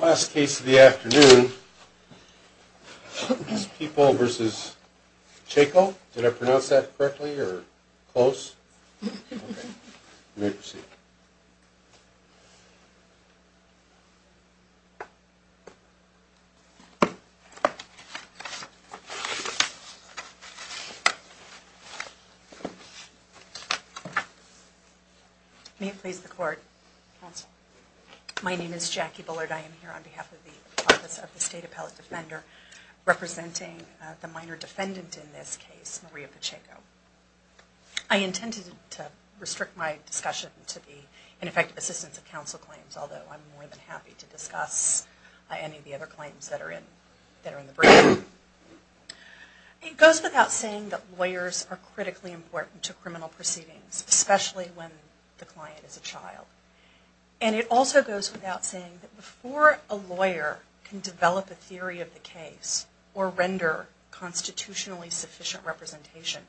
Last case of the afternoon is Peeple v. Pacheco. Did I pronounce that correctly or close? You may proceed. May it please the court. Counsel. My name is Jackie Bullard. I am here on behalf of the Office of the State Appellate Defender representing the minor defendant in this case, Maria Pacheco. I intended to restrict my discussion to the ineffective assistance of counsel claims, although I'm more than happy to discuss any of the other claims that are in the briefing. It goes without saying that lawyers are critically important to criminal proceedings, especially when the client is a child. And it also goes without saying that before a lawyer can develop a theory of the case or render constitutionally sufficient representation,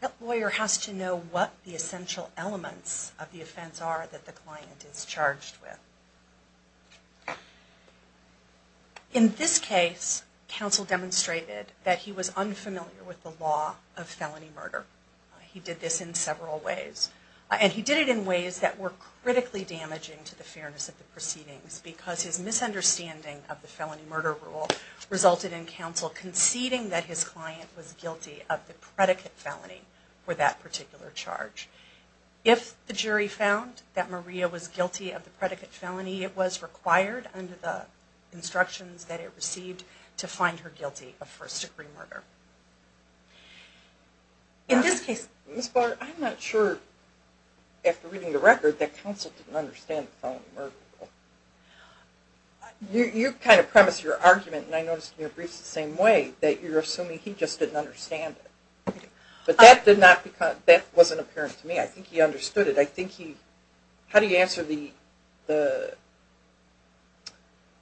that lawyer has to know what the essential elements of the offense are that the client is charged with. In this case, counsel demonstrated that he was unfamiliar with the law of felony murder. He did this in several ways. And he did it in ways that were critically damaging to the fairness of the proceedings because his misunderstanding of the felony murder rule resulted in counsel conceding that his client was guilty of the predicate felony for that particular charge. If the jury found that Maria was guilty of the predicate felony, it was required under the instructions that it received to find her guilty of first-degree murder. In this case... Ms. Barr, I'm not sure, after reading the record, that counsel didn't understand the felony murder rule. You kind of premised your argument, and I noticed in your briefs the same way, that you're assuming he just didn't understand it. But that wasn't apparent to me. I think he understood it. How do you answer the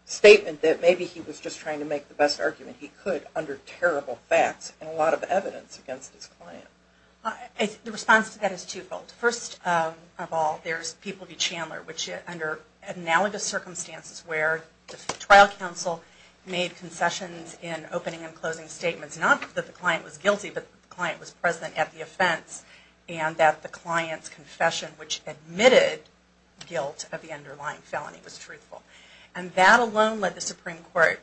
statement that maybe he was just trying to make the best argument he could under terrible facts and a lot of evidence against his client? The response to that is twofold. First of all, there's People v. Chandler, which under analogous circumstances where the trial counsel made concessions in opening and closing statements, not that the client was guilty, but the client was present at the offense, and that the client's confession, which admitted guilt of the underlying felony, was truthful. And that alone led the Supreme Court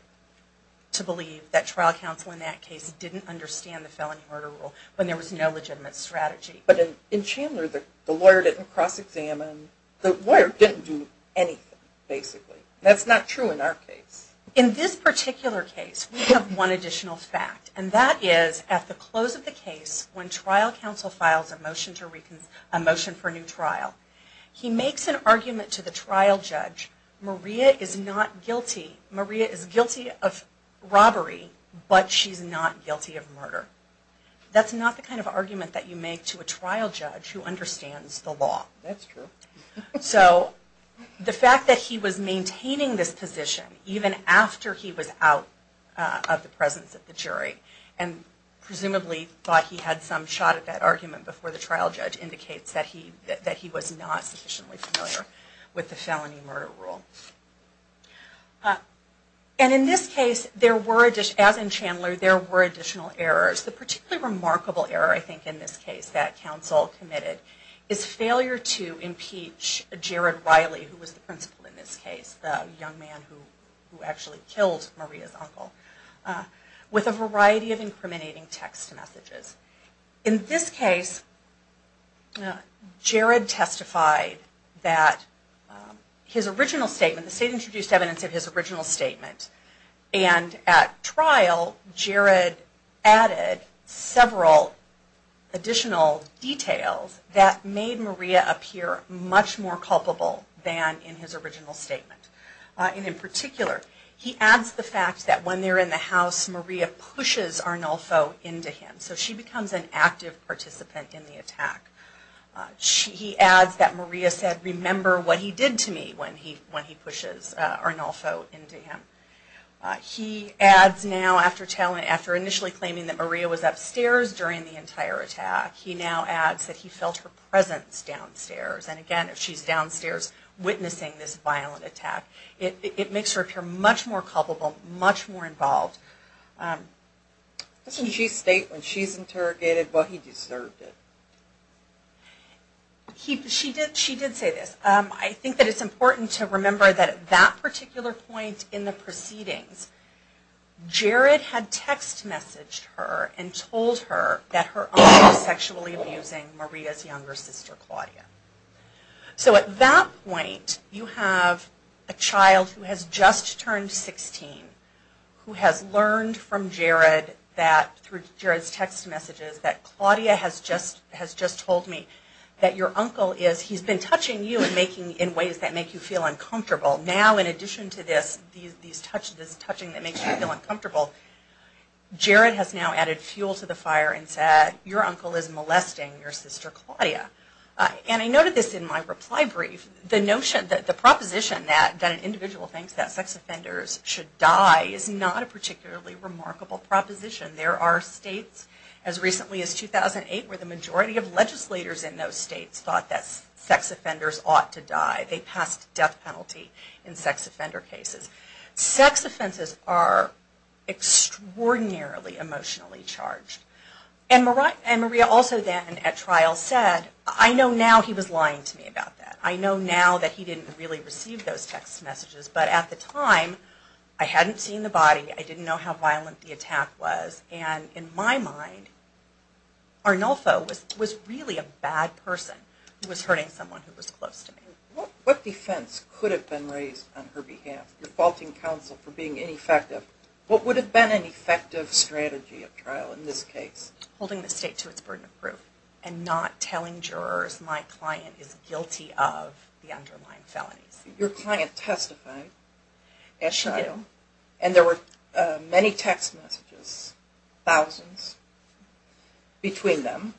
to believe that trial counsel in that case didn't understand the felony murder rule when there was no legitimate strategy. But in Chandler, the lawyer didn't cross-examine. The lawyer didn't do anything, basically. That's not true in our case. In this particular case, we have one additional fact, and that is at the close of the case when trial counsel files a motion for a new trial, he makes an argument to the trial judge, Maria is not guilty, Maria is guilty of robbery, but she's not guilty of murder. That's not the kind of argument that you make to a trial judge who understands the law. That's true. So the fact that he was maintaining this position even after he was out of the presence of the jury, and presumably thought he had some shot at that argument before the trial judge indicates that he was not sufficiently familiar with the felony murder rule. And in this case, as in Chandler, there were additional errors. The particularly remarkable error, I think, in this case that counsel committed is failure to impeach Jared Riley, who was the principal in this case, the young man who actually killed Maria's uncle, with a variety of incriminating text messages. In this case, Jared testified that his original statement, the state introduced evidence of his original statement, and at trial, Jared added several additional details that made Maria appear much more culpable than in his original statement. And in particular, he adds the fact that when they're in the house, Maria pushes Arnolfo into him. So she becomes an active participant in the attack. He adds that Maria said, remember what he did to me when he pushes Arnolfo into him. He adds now, after initially claiming that Maria was upstairs during the entire attack, he now adds that he felt her presence downstairs. And again, if she's downstairs witnessing this violent attack, it makes her appear much more culpable, much more involved. Doesn't she state when she's interrogated, well, he deserved it? She did say this. I think that it's important to remember that at that particular point in the proceedings, Jared had text messaged her and told her that her uncle was sexually abusing Maria's younger sister, Claudia. So at that point, you have a child who has just turned 16, who has learned from Jared that, through Jared's text messages, that Claudia has just told me that your uncle is, he's been touching you in ways that make you feel uncomfortable. Now, in addition to this touching that makes you feel uncomfortable, Jared has now added fuel to the fire and said, your uncle is molesting your sister, Claudia. And I noted this in my reply brief. The notion that the proposition that an individual thinks that sex offenders should die is not a particularly remarkable proposition. There are states, as recently as 2008, where the majority of legislators in those states thought that sex offenders ought to die. They passed a death penalty in sex offender cases. Sex offenses are extraordinarily emotionally charged. And Maria also then, at trial, said, I know now he was lying to me about that. I know now that he didn't really receive those text messages. But at the time, I hadn't seen the body. I didn't know how violent the attack was. And in my mind, Arnulfo was really a bad person who was hurting someone who was close to me. What defense could have been raised on her behalf? Defaulting counsel for being ineffective. What would have been an effective strategy at trial in this case? Holding the state to its burden of proof and not telling jurors my client is guilty of the underlying felonies. Your client testified at trial, and there were many text messages, thousands between them,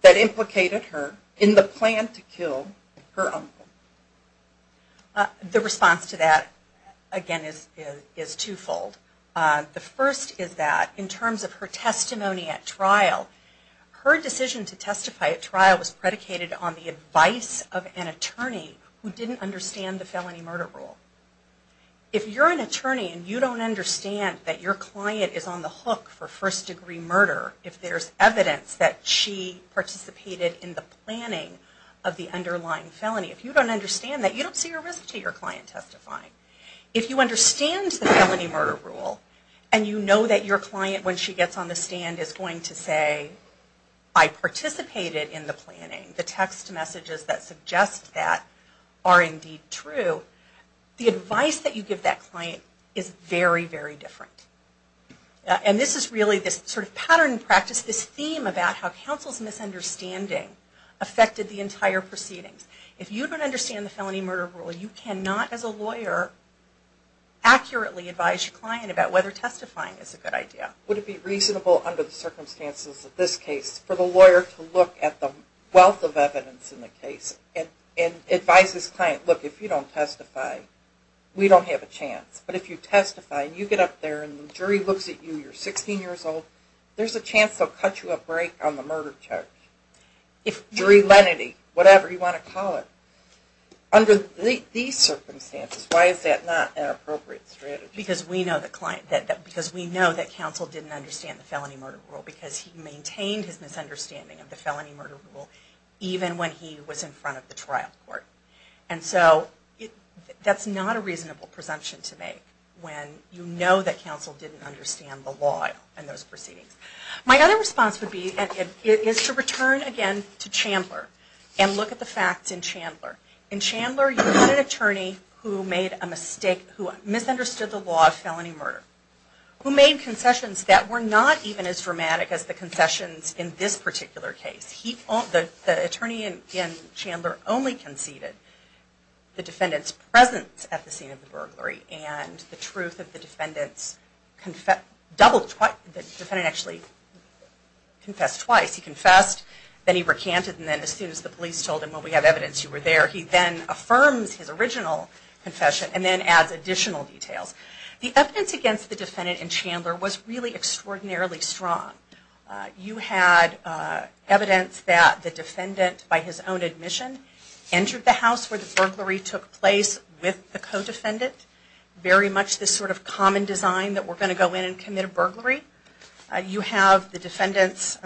that implicated her in the plan to kill her uncle. The response to that, again, is twofold. The first is that in terms of her testimony at trial, her decision to testify at trial was predicated on the advice of an attorney who didn't understand the felony murder rule. If you're an attorney and you don't understand that your client is on the hook for first-degree murder, if there's evidence that she participated in the planning of the underlying felony, if you don't understand that, you don't see a risk to your client testifying. If you understand the felony murder rule, and you know that your client, when she gets on the stand, is going to say, I participated in the planning, the text messages that suggest that are indeed true, the advice that you give that client is very, very different. And this is really this sort of pattern practice, this theme about how counsel's misunderstanding affected the entire proceedings. If you don't understand the felony murder rule, you cannot, as a lawyer, accurately advise your client about whether testifying is a good idea. Would it be reasonable under the circumstances of this case for the lawyer to look at the wealth of evidence in the case and advise his client, look, if you don't testify, we don't have a chance. But if you testify and you get up there and the jury looks at you, you're 16 years old, there's a chance they'll cut you a break on the murder charge. Jury lenity, whatever you want to call it. Under these circumstances, why is that not an appropriate strategy? Because we know that counsel didn't understand the felony murder rule because he maintained his misunderstanding of the felony murder rule even when he was in front of the trial court. And so that's not a reasonable presumption to make when you know that counsel didn't understand the law in those proceedings. My other response would be to return again to Chandler and look at the facts in Chandler. In Chandler, you had an attorney who made a mistake, who misunderstood the law of felony murder, who made concessions that were not even as dramatic as the concessions in this particular case. The attorney in Chandler only conceded the defendant's presence at the scene of the burglary. And the truth of the defendant's... The defendant actually confessed twice. He confessed, then he recanted, and then as soon as the police told him, well, we have evidence you were there, he then affirms his original confession and then adds additional details. The evidence against the defendant in Chandler was really extraordinarily strong. You had evidence that the defendant, by his own admission, entered the house where the burglary took place with the co-defendant. Very much this sort of common design that we're going to go in and commit a burglary. You have the defendant's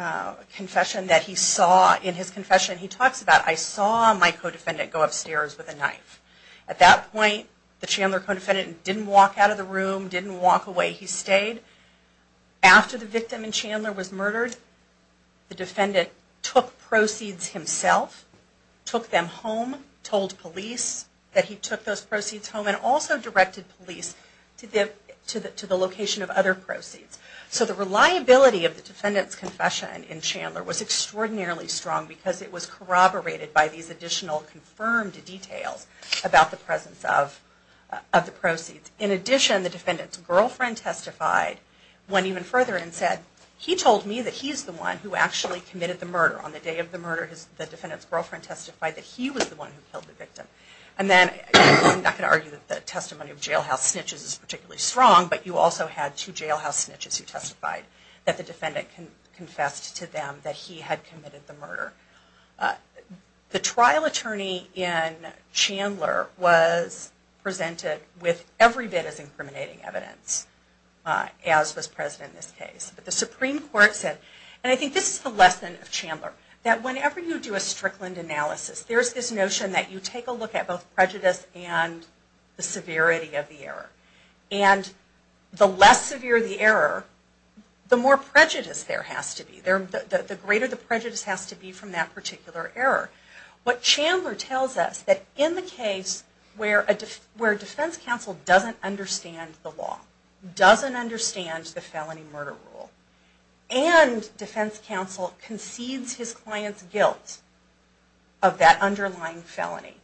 confession that he saw in his confession. He talks about, I saw my co-defendant go upstairs with a knife. At that point, the Chandler co-defendant didn't walk out of the room, didn't walk away, he stayed. After the victim in Chandler was murdered, the defendant took proceeds himself, took them home, told police that he took those proceeds home, and also directed police to the location of other proceeds. So the reliability of the defendant's confession in Chandler was extraordinarily strong because it was corroborated by these additional confirmed details about the presence of the proceeds. In addition, the defendant's girlfriend testified, went even further and said, on the day of the murder, the defendant's girlfriend testified that he was the one who killed the victim. I'm not going to argue that the testimony of jailhouse snitches is particularly strong, but you also had two jailhouse snitches who testified that the defendant confessed to them that he had committed the murder. The trial attorney in Chandler was presented with every bit as incriminating evidence, as was present in this case. But the Supreme Court said, and I think this is the lesson of Chandler, that whenever you do a Strickland analysis, there's this notion that you take a look at both prejudice and the severity of the error. And the less severe the error, the more prejudice there has to be. The greater the prejudice has to be from that particular error. What Chandler tells us, that in the case where a defense counsel doesn't understand the law, doesn't understand the felony murder rule, and defense counsel concedes his client's guilt of that underlying felony,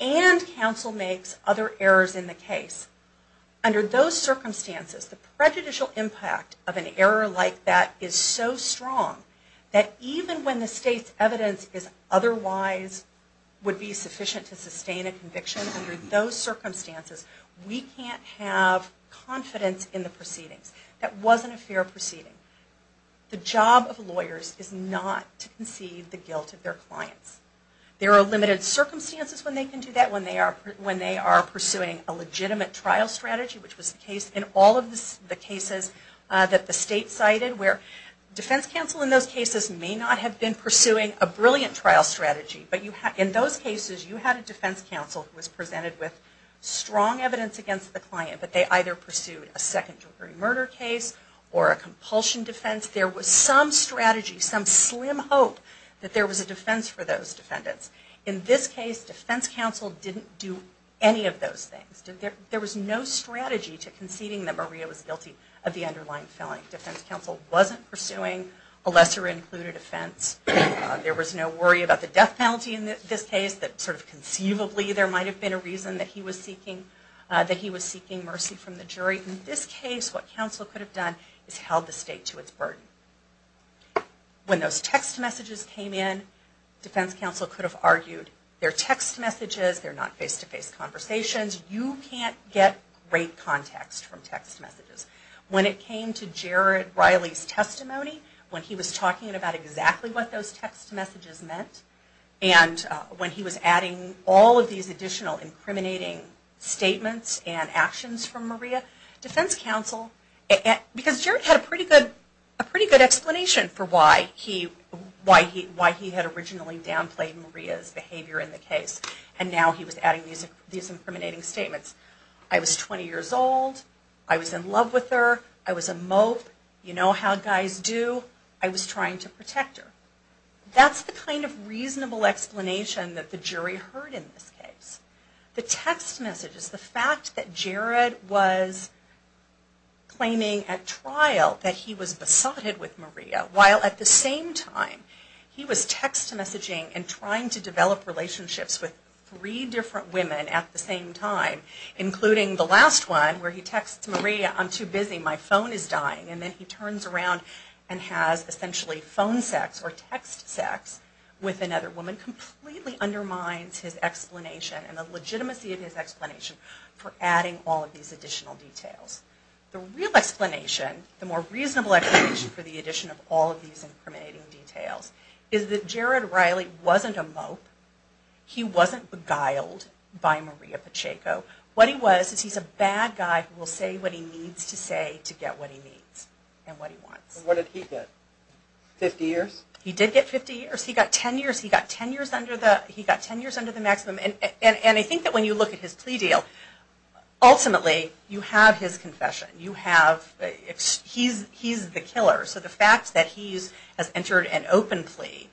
and counsel makes other errors in the case, under those circumstances, the prejudicial impact of an error like that is so strong that even when the state's evidence is otherwise sufficient to sustain a conviction, under those circumstances, we can't have confidence in the proceedings. That wasn't a fair proceeding. The job of lawyers is not to concede the guilt of their clients. There are limited circumstances when they can do that, when they are pursuing a legitimate trial strategy, which was the case in all of the cases that the state cited, where defense counsel in those cases may not have been pursuing a brilliant trial strategy, but in those cases you had a defense counsel who was presented with strong evidence against the client, but they either pursued a second degree murder case or a compulsion defense. There was some strategy, some slim hope that there was a defense for those defendants. In this case, defense counsel didn't do any of those things. There was no strategy to conceding that Maria was guilty of the underlying felony. Defense counsel wasn't pursuing a lesser included offense. There was no worry about the death penalty in this case, that sort of conceivably there might have been a reason that he was seeking mercy from the jury. In this case, what counsel could have done is held the state to its burden. When those text messages came in, defense counsel could have argued, they're text messages, they're not face-to-face conversations, you can't get great context from text messages. When it came to Jared Riley's testimony, when he was talking about exactly what those text messages meant, and when he was adding all of these additional incriminating statements and actions from Maria, defense counsel, because Jared had a pretty good explanation for why he had originally downplayed Maria's behavior in the case, and now he was adding these incriminating statements. I was 20 years old, I was in love with her, I was a mope, you know how guys do, I was trying to protect her. That's the kind of reasonable explanation that the jury heard in this case. The text messages, the fact that Jared was claiming at trial that he was besotted with Maria, while at the same time he was text messaging and trying to develop relationships with three different women at the same time, including the last one where he texts Maria, I'm too busy, my phone is dying, and then he turns around and has essentially phone sex or text sex with another woman, completely undermines his explanation and the legitimacy of his explanation for adding all of these additional details. The real explanation, the more reasonable explanation for the addition of all of these incriminating details, is that Jared Riley wasn't a mope, he wasn't beguiled by Maria Pacheco, what he was is he's a bad guy who will say what he needs to say to get what he needs and what he wants. And what did he get, 50 years? He did get 50 years, he got 10 years, he got 10 years under the maximum, and I think that when you look at his plea deal, ultimately you have his confession, you have, he's the killer, so the fact that he has entered an open plea,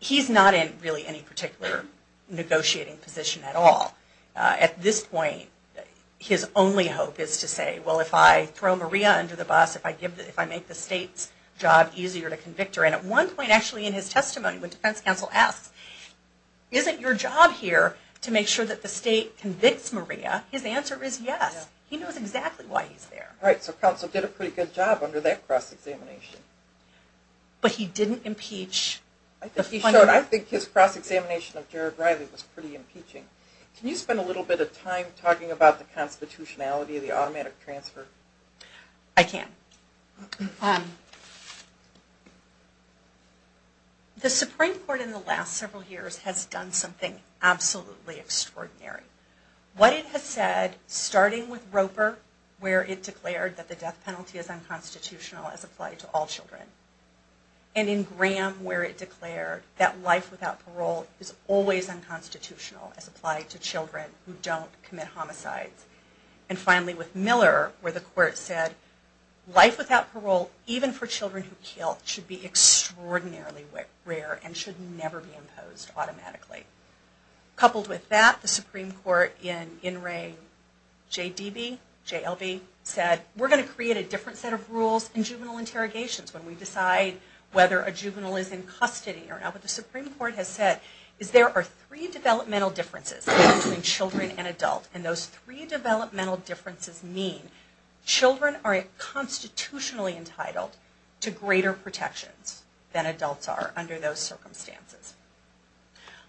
he's not in really any particular negotiating position at all. At this point, his only hope is to say, well if I throw Maria under the bus, if I make the state's job easier to convict her, and at one point actually in his testimony, when defense counsel asks, isn't your job here to make sure that the state convicts Maria, his answer is yes, he knows exactly why he's there. Right, so counsel did a pretty good job under that cross-examination. But he didn't impeach. I think his cross-examination of Jared Riley was pretty impeaching. Can you spend a little bit of time talking about the constitutionality of the automatic transfer? I can. The Supreme Court in the last several years has done something absolutely extraordinary. What it has said, starting with Roper, where it declared that the death penalty is unconstitutional as applied to all children. And in Graham, where it declared that life without parole is always unconstitutional as applied to children who don't commit homicides. And finally with Miller, where the court said life without parole, even for children who kill, should be extraordinarily rare and should never be imposed automatically. Coupled with that, the Supreme Court in In re J.D.B., J.L.B., said we're going to create a different set of rules in juvenile interrogations when we decide whether a juvenile is in custody or not. What the Supreme Court has said is there are three developmental differences between children and adults, and those three developmental differences mean children are constitutionally entitled to greater protections than adults are under those circumstances.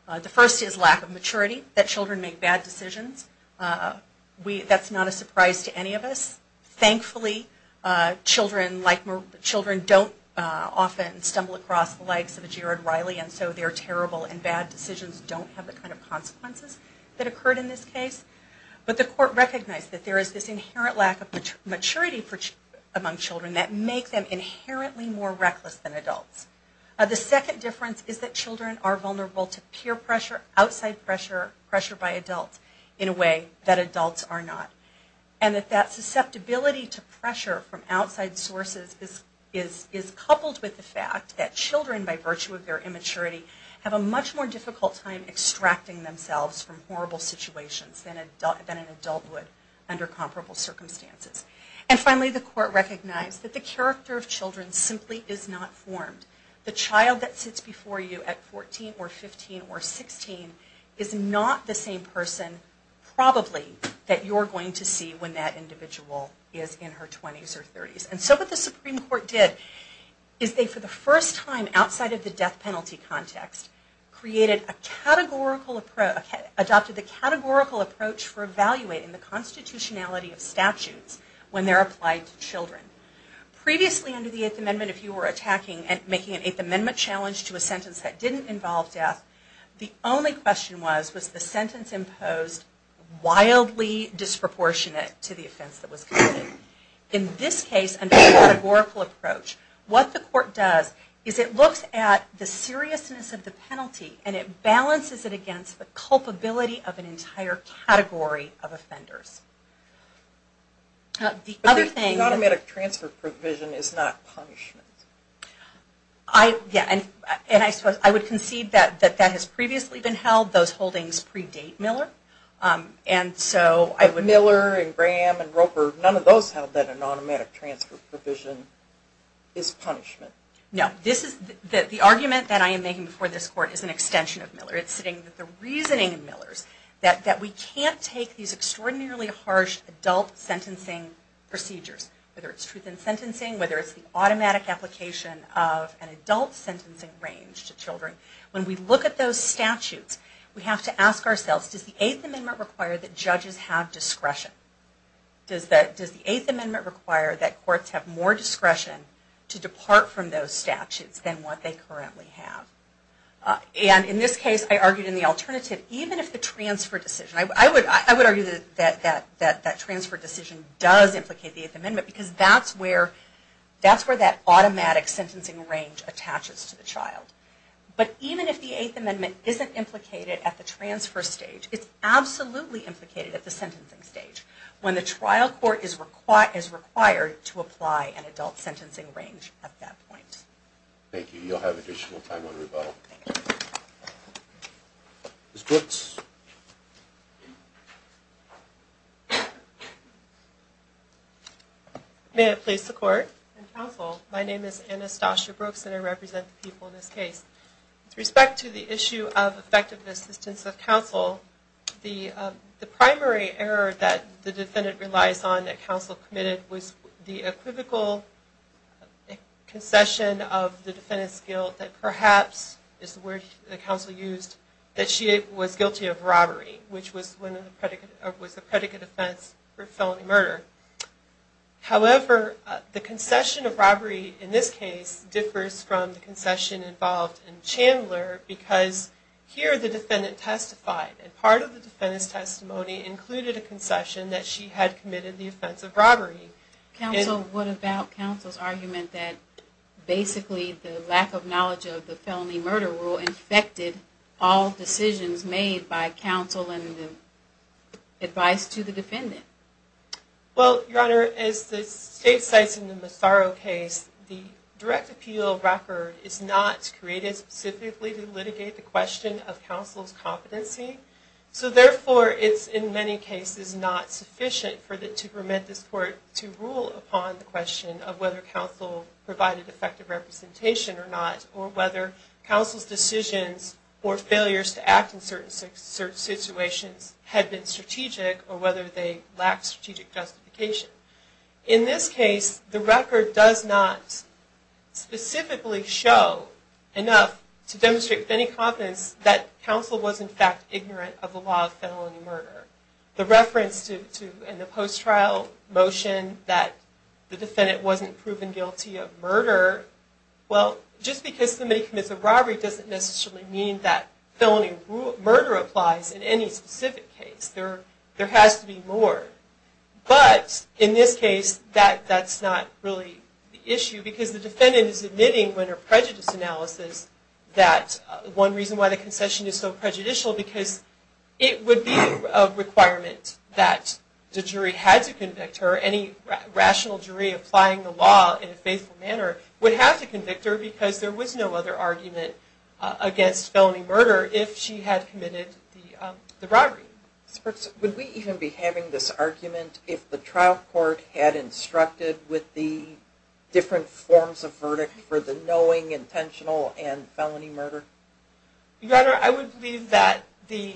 The first is lack of maturity, that children make bad decisions. That's not a surprise to any of us. Thankfully, children don't often stumble across the likes of a Jared Riley, and so their terrible and bad decisions don't have the kind of consequences that occurred in this case. But the court recognized that there is this inherent lack of maturity among children that make them inherently more reckless than adults. The second difference is that children are vulnerable to peer pressure, outside pressure, pressure by adults, in a way that adults are not. And that that susceptibility to pressure from outside sources is coupled with the fact that children, by virtue of their immaturity, have a much more difficult time extracting themselves from horrible situations than an adult would under comparable circumstances. And finally, the court recognized that the character of children simply is not formed. The child that sits before you at 14 or 15 or 16 is not the same person, probably, that you're going to see when that individual is in her 20s or 30s. And so what the Supreme Court did is they, for the first time, outside of the death penalty context, created a categorical approach, adopted the categorical approach for evaluating the constitutionality of statutes when they're applied to children. Previously, under the Eighth Amendment, if you were making an Eighth Amendment challenge to a sentence that didn't involve death, the only question was, was the sentence imposed wildly disproportionate to the offense that was committed? In this case, under the categorical approach, what the court does is it looks at the seriousness of the penalty, and it balances it against the culpability of an entire category of offenders. The other thing... The automatic transfer provision is not punishment. I would concede that that has previously been held. Those holdings predate Miller. Miller and Graham and Roper, none of those held that an automatic transfer provision is punishment. No. The argument that I am making before this court is an extension of Miller. It's sitting that the reasoning in Miller's, that we can't take these extraordinarily harsh adult sentencing procedures, whether it's truth in sentencing, whether it's the automatic application of an adult sentencing range to children. When we look at those statutes, we have to ask ourselves, does the Eighth Amendment require that judges have discretion? Does the Eighth Amendment require that courts have more discretion to depart from those statutes than what they currently have? In this case, I argued in the alternative, even if the transfer decision... I would argue that that transfer decision does implicate the Eighth Amendment because that's where that automatic sentencing range attaches to the child. But even if the Eighth Amendment isn't implicated at the transfer stage, it's absolutely implicated at the sentencing stage when the trial court is required to apply an adult sentencing range at that point. Thank you. You'll have additional time on rebuttal. Ms. Brooks. May it please the court and counsel, my name is Anastasia Brooks and I represent the people in this case. With respect to the issue of effective assistance of counsel, the primary error that the defendant relies on that counsel committed was the equivocal concession of the defendant's guilt that perhaps, is the word the counsel used, that she was guilty of robbery, which was a predicate offense for felony murder. However, the concession of robbery in this case differs from the concession involved in Chandler because here the defendant testified and part of the defendant's testimony included a concession that she had committed the offense of robbery. Counsel, what about counsel's argument that basically the lack of knowledge of the felony murder rule infected all decisions made by counsel and the advice to the defendant? Well, your honor, as the state states in the Massaro case, the direct appeal record is not created specifically to litigate the question of counsel's competency, so therefore it's in many cases not sufficient to permit this court to rule upon the question of whether counsel provided effective representation or not or whether counsel's decisions or failures to act in certain situations had been strategic or whether they lacked strategic justification. In this case, the record does not specifically show enough to demonstrate with any confidence that counsel was in fact ignorant of the law of felony murder. The reference to, in the post-trial motion, that the defendant wasn't proven guilty of murder, well, just because somebody commits a robbery doesn't necessarily mean that felony murder applies in any specific case. There has to be more. But in this case, that's not really the issue because the defendant is admitting when her prejudice analysis that one reason why the concession is so prejudicial because it would be a requirement that the jury had to convict her or any rational jury applying the law in a faithful manner would have to convict her because there was no other argument against felony murder if she had committed the robbery. Would we even be having this argument if the trial court had instructed with the different forms of verdict for the knowing, intentional, and felony murder? Your Honor, I would believe that the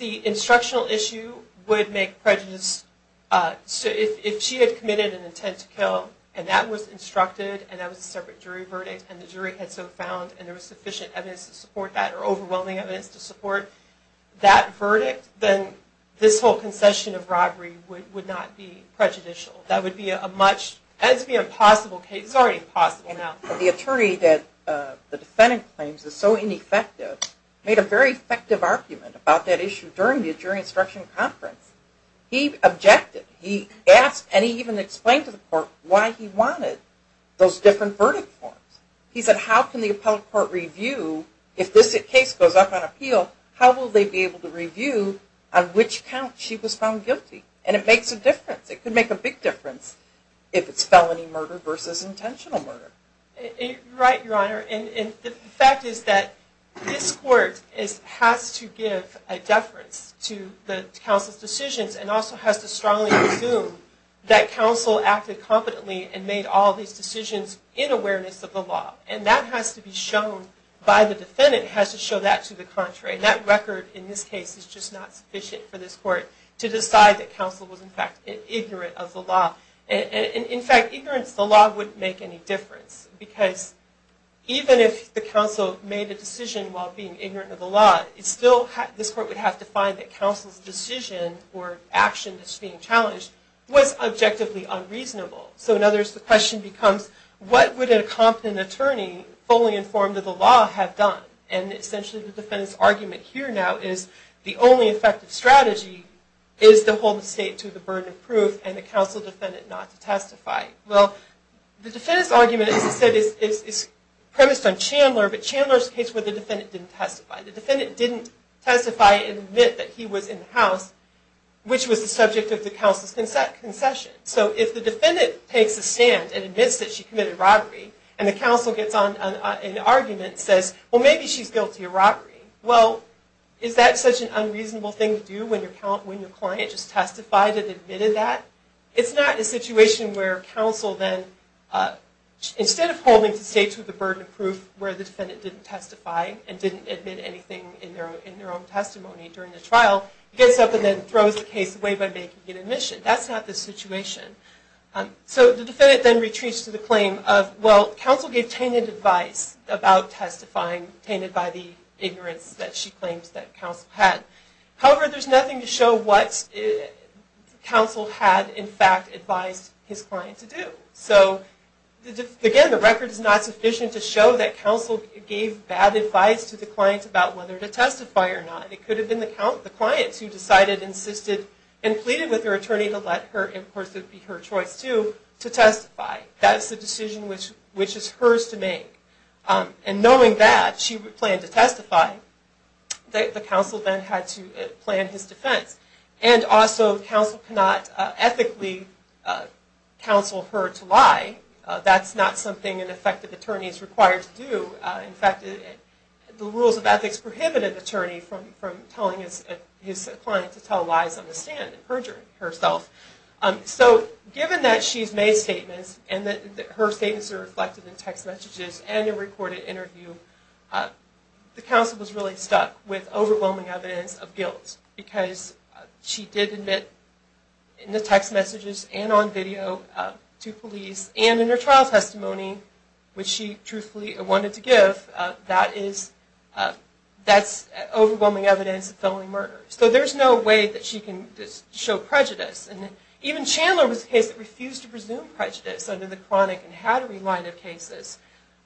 instructional issue would make prejudice... If she had committed an intent to kill and that was instructed and that was a separate jury verdict and the jury had so found and there was sufficient evidence to support that or overwhelming evidence to support that verdict, then this whole concession of robbery would not be prejudicial. That would be a much... That would be an impossible case. It's already impossible now. The attorney that the defendant claims is so ineffective made a very effective argument about that issue during the jury instruction conference. He objected. He asked and he even explained to the court why he wanted those different verdict forms. He said, how can the appellate court review, if this case goes up on appeal, how will they be able to review on which count she was found guilty? And it makes a difference. It could make a big difference if it's felony murder versus intentional murder. Right, Your Honor. And the fact is that this court has to give a deference to the counsel's decisions and also has to strongly assume that counsel acted competently and made all these decisions in awareness of the law. And that has to be shown by the defendant. It has to show that to the contrary. That record in this case is just not sufficient for this court to decide that counsel was in fact ignorant of the law. In fact, ignorance of the law wouldn't make any difference because even if the counsel made a decision while being ignorant of the law, this court would have to find that counsel's decision or action that's being challenged was objectively unreasonable. So in other words, the question becomes, what would a competent attorney fully informed of the law have done? And essentially the defendant's argument here now is the only effective strategy is to hold the state to the burden of proof and the counsel defendant not to testify. Well, the defendant's argument, as I said, is premised on Chandler, but Chandler's case where the defendant didn't testify. The defendant didn't testify and admit that he was in the house, which was the subject of the counsel's concession. So if the defendant takes a stand and admits that she committed robbery and the counsel gets on an argument and says, well, maybe she's guilty of robbery, well, is that such an unreasonable thing to do when your client just testified and admitted that? It's not a situation where counsel then, instead of holding the state to the burden of proof where the defendant didn't testify and didn't admit anything in their own testimony during the trial, gets up and then throws the case away by making an admission. That's not the situation. So the defendant then retreats to the claim of, well, counsel gave tainted advice about testifying, tainted by the ignorance that she claims that counsel had. However, there's nothing to show what counsel had, in fact, advised his client to do. So, again, the record is not sufficient to show that counsel gave bad advice to the client about whether to testify or not. It could have been the client who decided, insisted, and pleaded with her attorney to let her, and of course it would be her choice too, to testify. That is the decision which is hers to make. And knowing that, she planned to testify. The counsel then had to plan his defense. And also, counsel cannot ethically counsel her to lie. That's not something an effective attorney is required to do. In fact, the rules of ethics prohibited the attorney from telling his client to tell lies on the stand and perjure herself. So, given that she's made statements, and that her statements are reflected in text messages and in a recorded interview, the counsel was really stuck with overwhelming evidence of guilt. Because she did admit, in the text messages and on video, to police, and in her trial testimony, which she truthfully wanted to give, that's overwhelming evidence of felony murder. So there's no way that she can show prejudice. Even Chandler was a case that refused to presume prejudice under the chronic and hattery line of cases.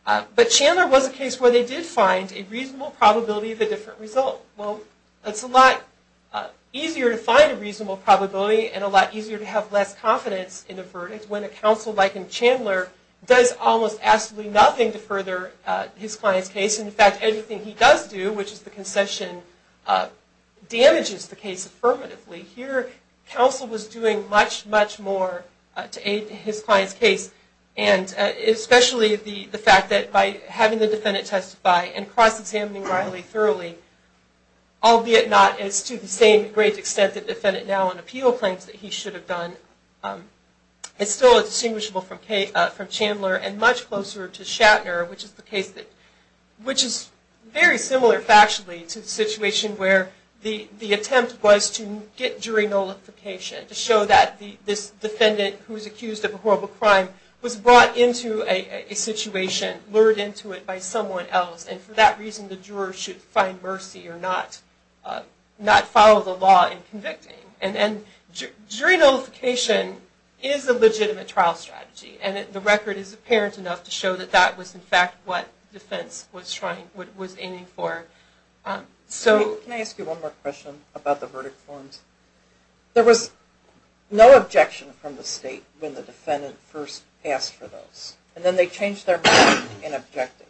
But Chandler was a case where they did find a reasonable probability of a different result. Well, it's a lot easier to find a reasonable probability and a lot easier to have less confidence in a verdict when a counsel like Chandler does almost absolutely nothing to further his client's case. In fact, anything he does do, which is the concession, damages the case affirmatively. Here, counsel was doing much, much more to aid his client's case. Especially the fact that by having the defendant testify and cross-examining Riley thoroughly, albeit not as to the same great extent that defendant now on appeal claims that he should have done, it's still distinguishable from Chandler and much closer to Shatner, which is very similar factually to the situation where the attempt was to get jury nullification, to show that this defendant who was accused of a horrible crime was brought into a situation, lured into it by someone else, and for that reason the juror should find mercy or not follow the law in convicting. And jury nullification is a legitimate trial strategy, and the record is apparent enough to show that that was in fact what defense was aiming for. Can I ask you one more question about the verdict forms? There was no objection from the state when the defendant first asked for those, and then they changed their mind and objected.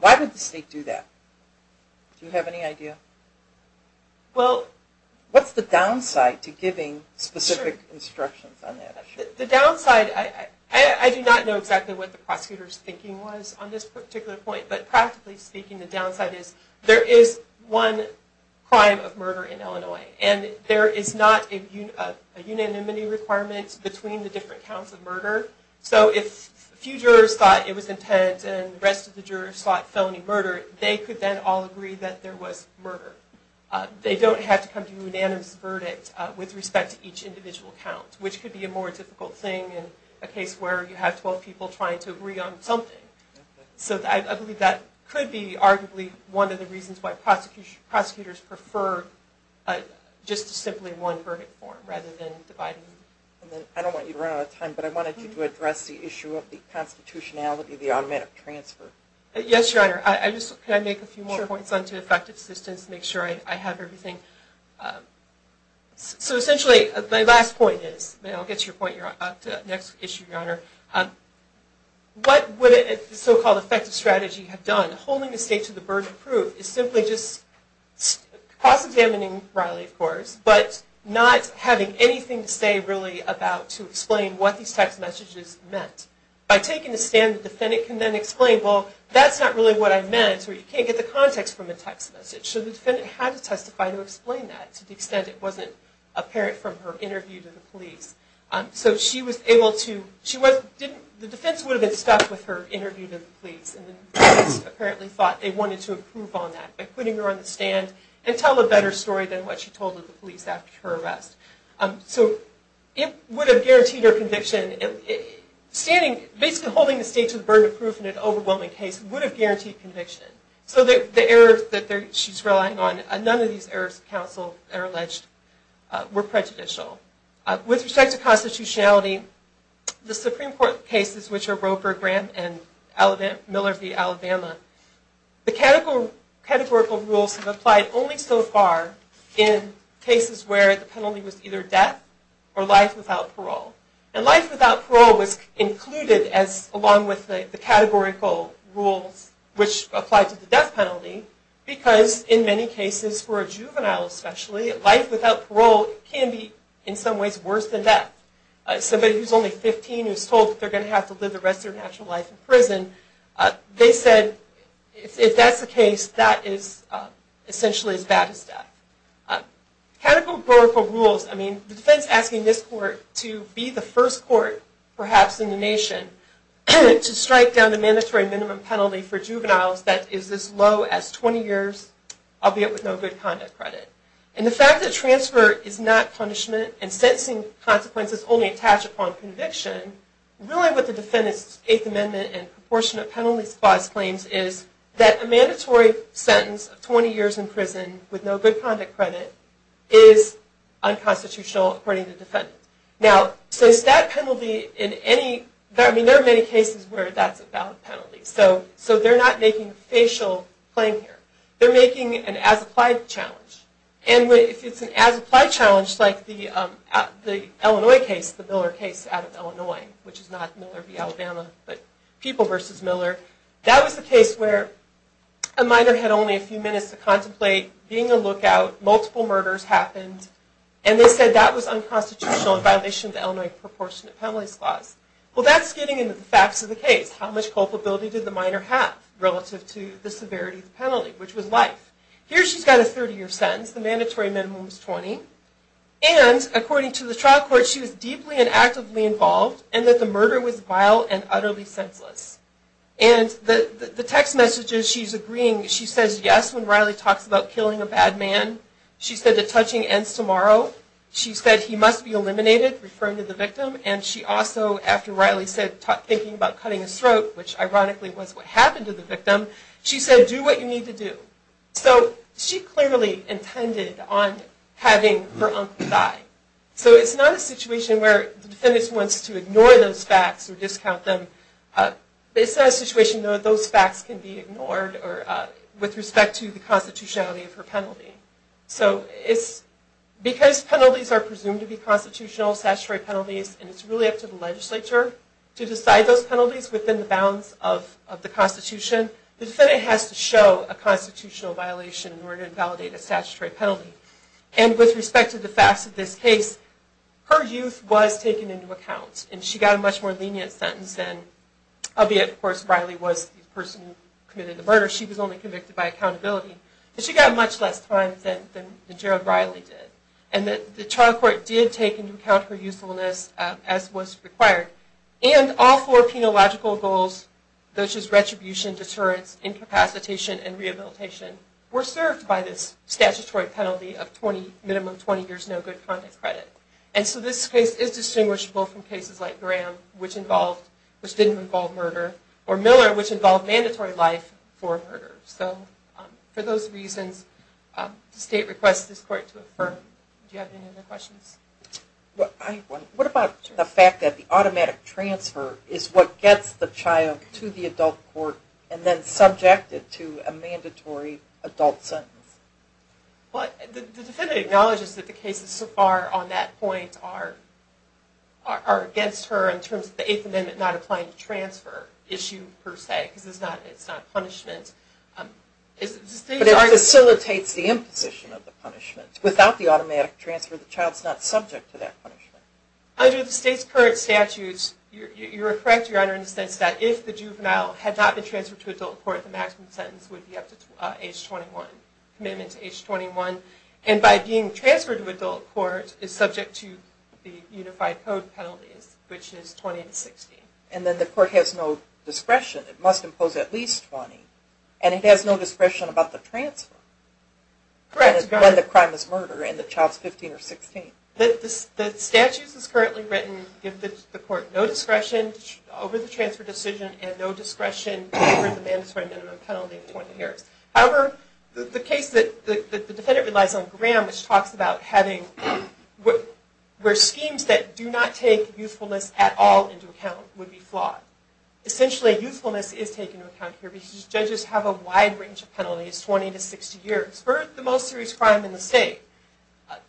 Why would the state do that? Do you have any idea? What's the downside to giving specific instructions on that issue? The downside... I do not know exactly what the prosecutor's thinking was on this particular point, but practically speaking the downside is there is one crime of murder in Illinois, and there is not a unanimity requirement between the different counts of murder. So if a few jurors thought it was intent and the rest of the jurors thought felony murder, they could then all agree that there was murder. They don't have to come to a unanimous verdict with respect to each individual count, which could be a more difficult thing in a case where you have 12 people trying to agree on something. So I believe that could be arguably one of the reasons why prosecutors prefer just a simply one verdict form rather than dividing them. I don't want you to run out of time, but I wanted you to address the issue of the constitutionality of the automatic transfer. Yes, Your Honor. Can I make a few more points on effective assistance to make sure I have everything? So essentially, my last point is... I'll get to your point on the next issue, Your Honor. What would a so-called effective strategy have done? Holding the state to the burden of proof is simply just cross-examining Riley, of course, but not having anything to say really about to explain what these text messages meant. By taking a stand, the defendant can then explain, well, that's not really what I meant, or you can't get the context from the text message. So the defendant had to testify to explain that to the extent it wasn't apparent from her interview to the police. So the defense would have been stuck with her interview to the police, and the defense apparently thought they wanted to improve on that by putting her on the stand and tell a better story than what she told the police after her arrest. So it would have guaranteed her conviction. Basically holding the state to the burden of proof in an overwhelming case would have guaranteed conviction. So the errors that she's relying on, none of these errors counsel are alleged were prejudicial. With respect to constitutionality, the Supreme Court cases, which are Roper, Graham, and Miller v. Alabama, the categorical rules have applied only so far in cases where the penalty was either death or life without parole. And life without parole was included along with the categorical rules which applied to the death penalty because in many cases, for a juvenile especially, life without parole can be in some ways worse than death. Somebody who's only 15 who's told that they're going to have to live the rest of their natural life in prison, they said if that's the case, that is essentially as bad as death. The categorical rules, the defense asking this court to be the first court perhaps in the nation to strike down the mandatory minimum penalty for juveniles that is as low as 20 years, albeit with no good conduct credit. And the fact that transfer is not punishment and sentencing consequences only attach upon conviction, really what the defendant's Eighth Amendment and Proportionate Penalty Clause claims is that a mandatory sentence of 20 years in prison with no good conduct credit is unconstitutional according to the defendant. Now, since that penalty in any... there are many cases where that's a valid penalty. So they're not making a facial claim here. They're making an as-applied challenge. And if it's an as-applied challenge, like the Illinois case, the Miller case out of Illinois, which is not Miller v. Alabama, but People v. Miller, that was the case where a minor had only a few minutes to contemplate being a lookout, multiple murders happened, and they said that was unconstitutional in violation of the Illinois Proportionate Penalty Clause. Well, that's getting into the facts of the case. How much culpability did the minor have relative to the severity of the penalty, which was life? Here she's got a 30-year sentence. The mandatory minimum was 20. And, according to the trial court, she was deeply and actively involved and that the murder was vile and utterly senseless. And the text messages she's agreeing, she says yes when Riley talks about killing a bad man. She said the touching ends tomorrow. She said he must be eliminated, referring to the victim. And she also, after Riley said thinking about cutting his throat, which is what you need to do. So she clearly intended on having her uncle die. So it's not a situation where the defendant wants to ignore those facts or discount them. It's not a situation where those facts can be ignored with respect to the constitutionality of her penalty. Because penalties are presumed to be constitutional, statutory penalties, and it's really up to the legislature to decide those penalties within the bounds of the constitution. The defendant has to show a constitutional violation in order to validate a statutory penalty. And with respect to the facts of this case, her youth was taken into account. And she got a much more lenient sentence than, albeit of course Riley was the person who committed the murder. She was only convicted by accountability. But she got much less time than Jared Riley did. And the trial court did take into account her youthfulness as was required. And all four penological goals, which is retribution, deterrence, incapacitation, and rehabilitation were served by this statutory penalty of minimum 20 years no good conduct credit. And so this case is distinguishable from cases like Graham which didn't involve murder, or Miller which involved mandatory life for murder. For those reasons, the state requests this court to affirm. Do you have any other questions? What about the fact that the automatic transfer is what gets the child to the adult court and then subject it to a mandatory adult sentence? The defendant acknowledges that the cases so far on that point are against her in terms of the 8th amendment not applying the transfer issue per se. But it facilitates the imposition of the punishment. Without the automatic transfer, the child is not subject to that punishment. Under the state's current statutes, you're correct, Your Honor, in the sense that if the juvenile had not been transferred to adult court, the maximum sentence would be up to age 21. Commitment to age 21. And by being transferred to adult court is subject to the unified code penalties, which is 20 to 60. And then the court has no discretion. It must impose at least 20. And it has no discretion about the transfer when the crime is murder and the child is 15 or 16. The statutes as currently written give the court no discretion over the transfer decision and no discretion over the mandatory minimum penalty of 20 years. However, the case that the defendant relies on, Graham, which talks about having schemes that do not take youthfulness at all into account would be flawed. Essentially, youthfulness is taken into account here because judges have a wide range of penalties, 20 to 60 years, for the most serious crime in the state.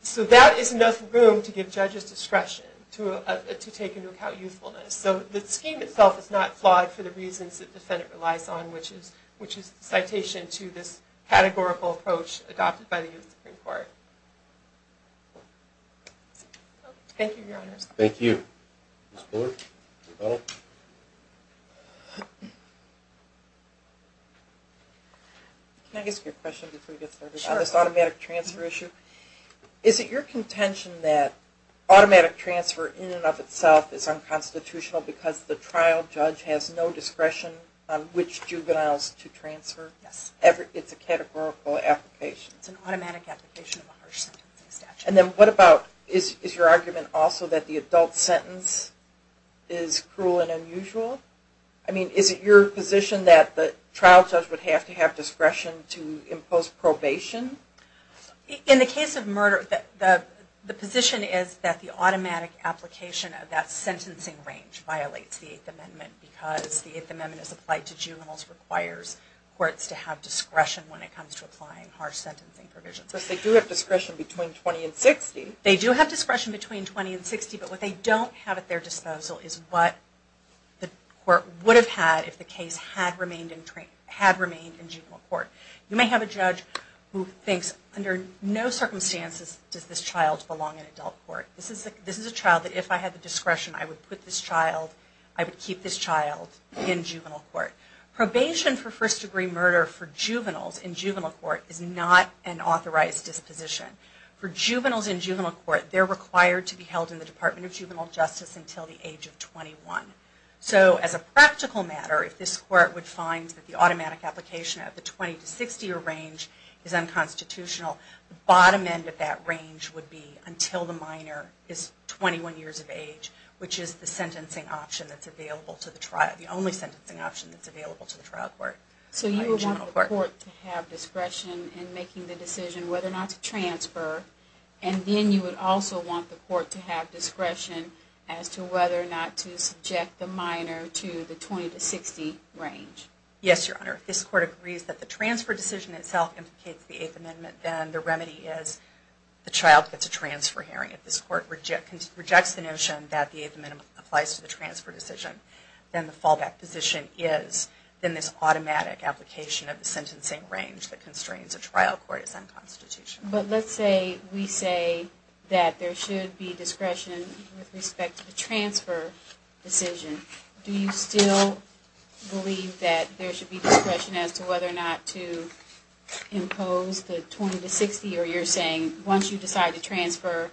So that is enough room to give judges discretion to take into account youthfulness. So the scheme itself is not flawed for the reasons that the defendant relies on, which is the citation to this categorical approach adopted by the U.S. Supreme Court. Thank you, Your Honors. Thank you. Ms. Bullard? Can I ask you a question before we get started on this automatic transfer issue? Sure. Is it your contention that automatic transfer in and of itself is unconstitutional because the trial judge has no discretion on which juveniles to transfer? Yes. It's a categorical application. It's an automatic application of a harsh sentencing statute. Is your argument also that the adult sentence is cruel and unusual? I mean, is it your position that the trial judge would have to have discretion to impose probation? In the case of murder, the position is that the automatic application of that sentencing range violates the Eighth Amendment because the Eighth Amendment is applied to juveniles and requires courts to have discretion when it comes to applying harsh sentencing provisions. They do have discretion between 20 and 60, but what they don't have at their disposal is what the court would have had if the case had remained in juvenile court. You may have a judge who thinks under no circumstances does this child belong in adult court. This is a child that if I had the discretion, I would put this child, I would keep this child in juvenile court. Probation for first degree murder for juveniles in juvenile court is not an authorized disposition. For juveniles in juvenile court, they're required to be held in the Department of Juvenile Justice until the age of 21. So as a practical matter, if this court would find that the automatic application at the 20 to 60 range is unconstitutional, the bottom end of that range would be until the minor is 21 years of age, which is the only sentencing option that's available to the trial court. So you would want the court to have discretion in making the decision whether or not to transfer, and then you would also want the court to have discretion as to whether or not to subject the minor to the 20 to 60 range. Yes, Your Honor. If this court agrees that the transfer decision itself implicates the Eighth Amendment, then the remedy is the child gets a transfer hearing. If this court rejects the notion that the Eighth Amendment applies to the transfer decision, then the fallback position is in this automatic application of the sentencing range that constrains a trial court as unconstitutional. But let's say we say that there should be discretion with respect to the transfer decision. Do you still believe that there should be discretion as to whether or not to impose the 20 to 60, or you're saying once you decide to transfer,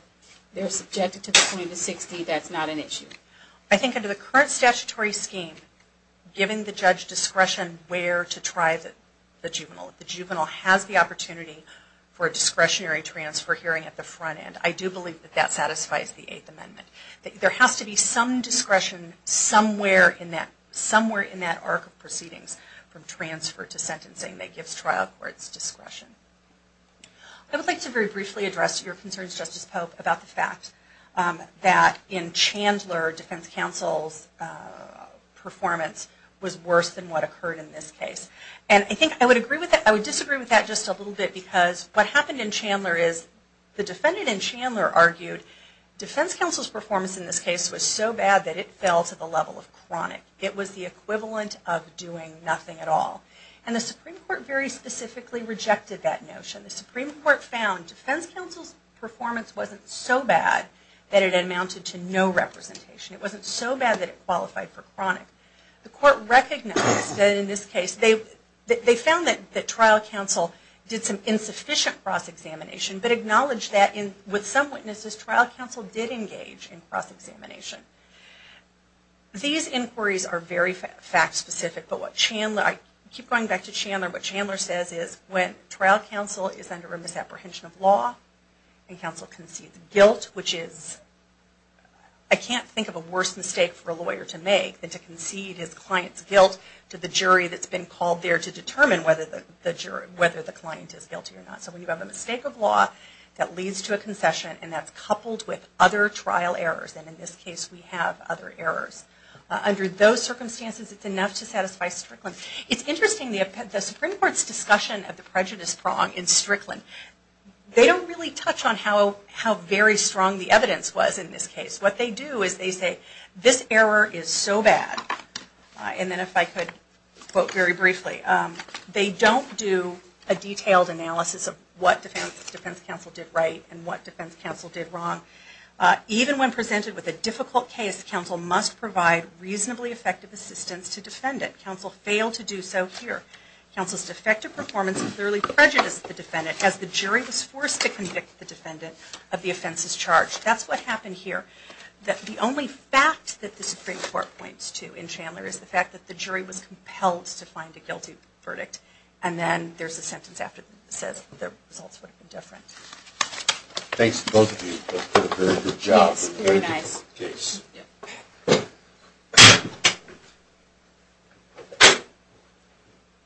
they're subjected to the 20 to 60, that's not an issue? I think under the current statutory scheme, giving the judge discretion where to try the juvenile. The juvenile has the opportunity for a discretionary transfer hearing at the front end. I do believe that that satisfies the Eighth Amendment. There has to be some discretion somewhere in that arc of proceedings from transfer to sentencing that gives trial courts discretion. I would like to very briefly address your concerns, Justice Pope, about the fact that in Chandler, defense counsel's performance was worse than what occurred in this case. And I think I would agree with that. I would disagree with that just a little bit because what happened in Chandler is the defendant in Chandler argued defense counsel's performance in this case was so bad that it did not qualify for trial to the level of chronic. It was the equivalent of doing nothing at all. And the Supreme Court very specifically rejected that notion. The Supreme Court found defense counsel's performance wasn't so bad that it amounted to no representation. It wasn't so bad that it qualified for chronic. The Court recognized that in this case, they found that trial counsel did some insufficient cross-examination, but acknowledged that with some witnesses, trial counsel did engage in cross-examination. These inquiries are very fact specific, but what Chandler, I keep going back to Chandler, what Chandler says is when trial counsel is under a misapprehension of law and counsel concedes guilt, which is, I can't think of a worse mistake for a lawyer to make than to concede his client's guilt to the jury that's been called there to determine whether the client is guilty or not. So we have a mistake of law that leads to a concession and that's coupled with other trial errors. And in this case, we have other errors. Under those circumstances, it's enough to satisfy Strickland. It's interesting, the Supreme Court's discussion of the prejudice prong in Strickland, they don't really touch on how very strong the evidence was in this case. What they do is they say, this error is so bad. And then if I could quote very briefly, they don't do a detailed analysis of what defense counsel did right and what defense counsel did wrong. Even when presented with a difficult case, counsel must provide reasonably effective assistance to defendant. Counsel failed to do so here. Counsel's defective performance clearly prejudiced the defendant as the jury was forced to convict the defendant of the offense's charge. That's what happened here. The only fact that the Supreme Court points to in Chandler is the fact that the jury was compelled to find a guilty verdict and then there's a sentence after that says the results would have been different. Thanks to both of you for a very good job. Very nice.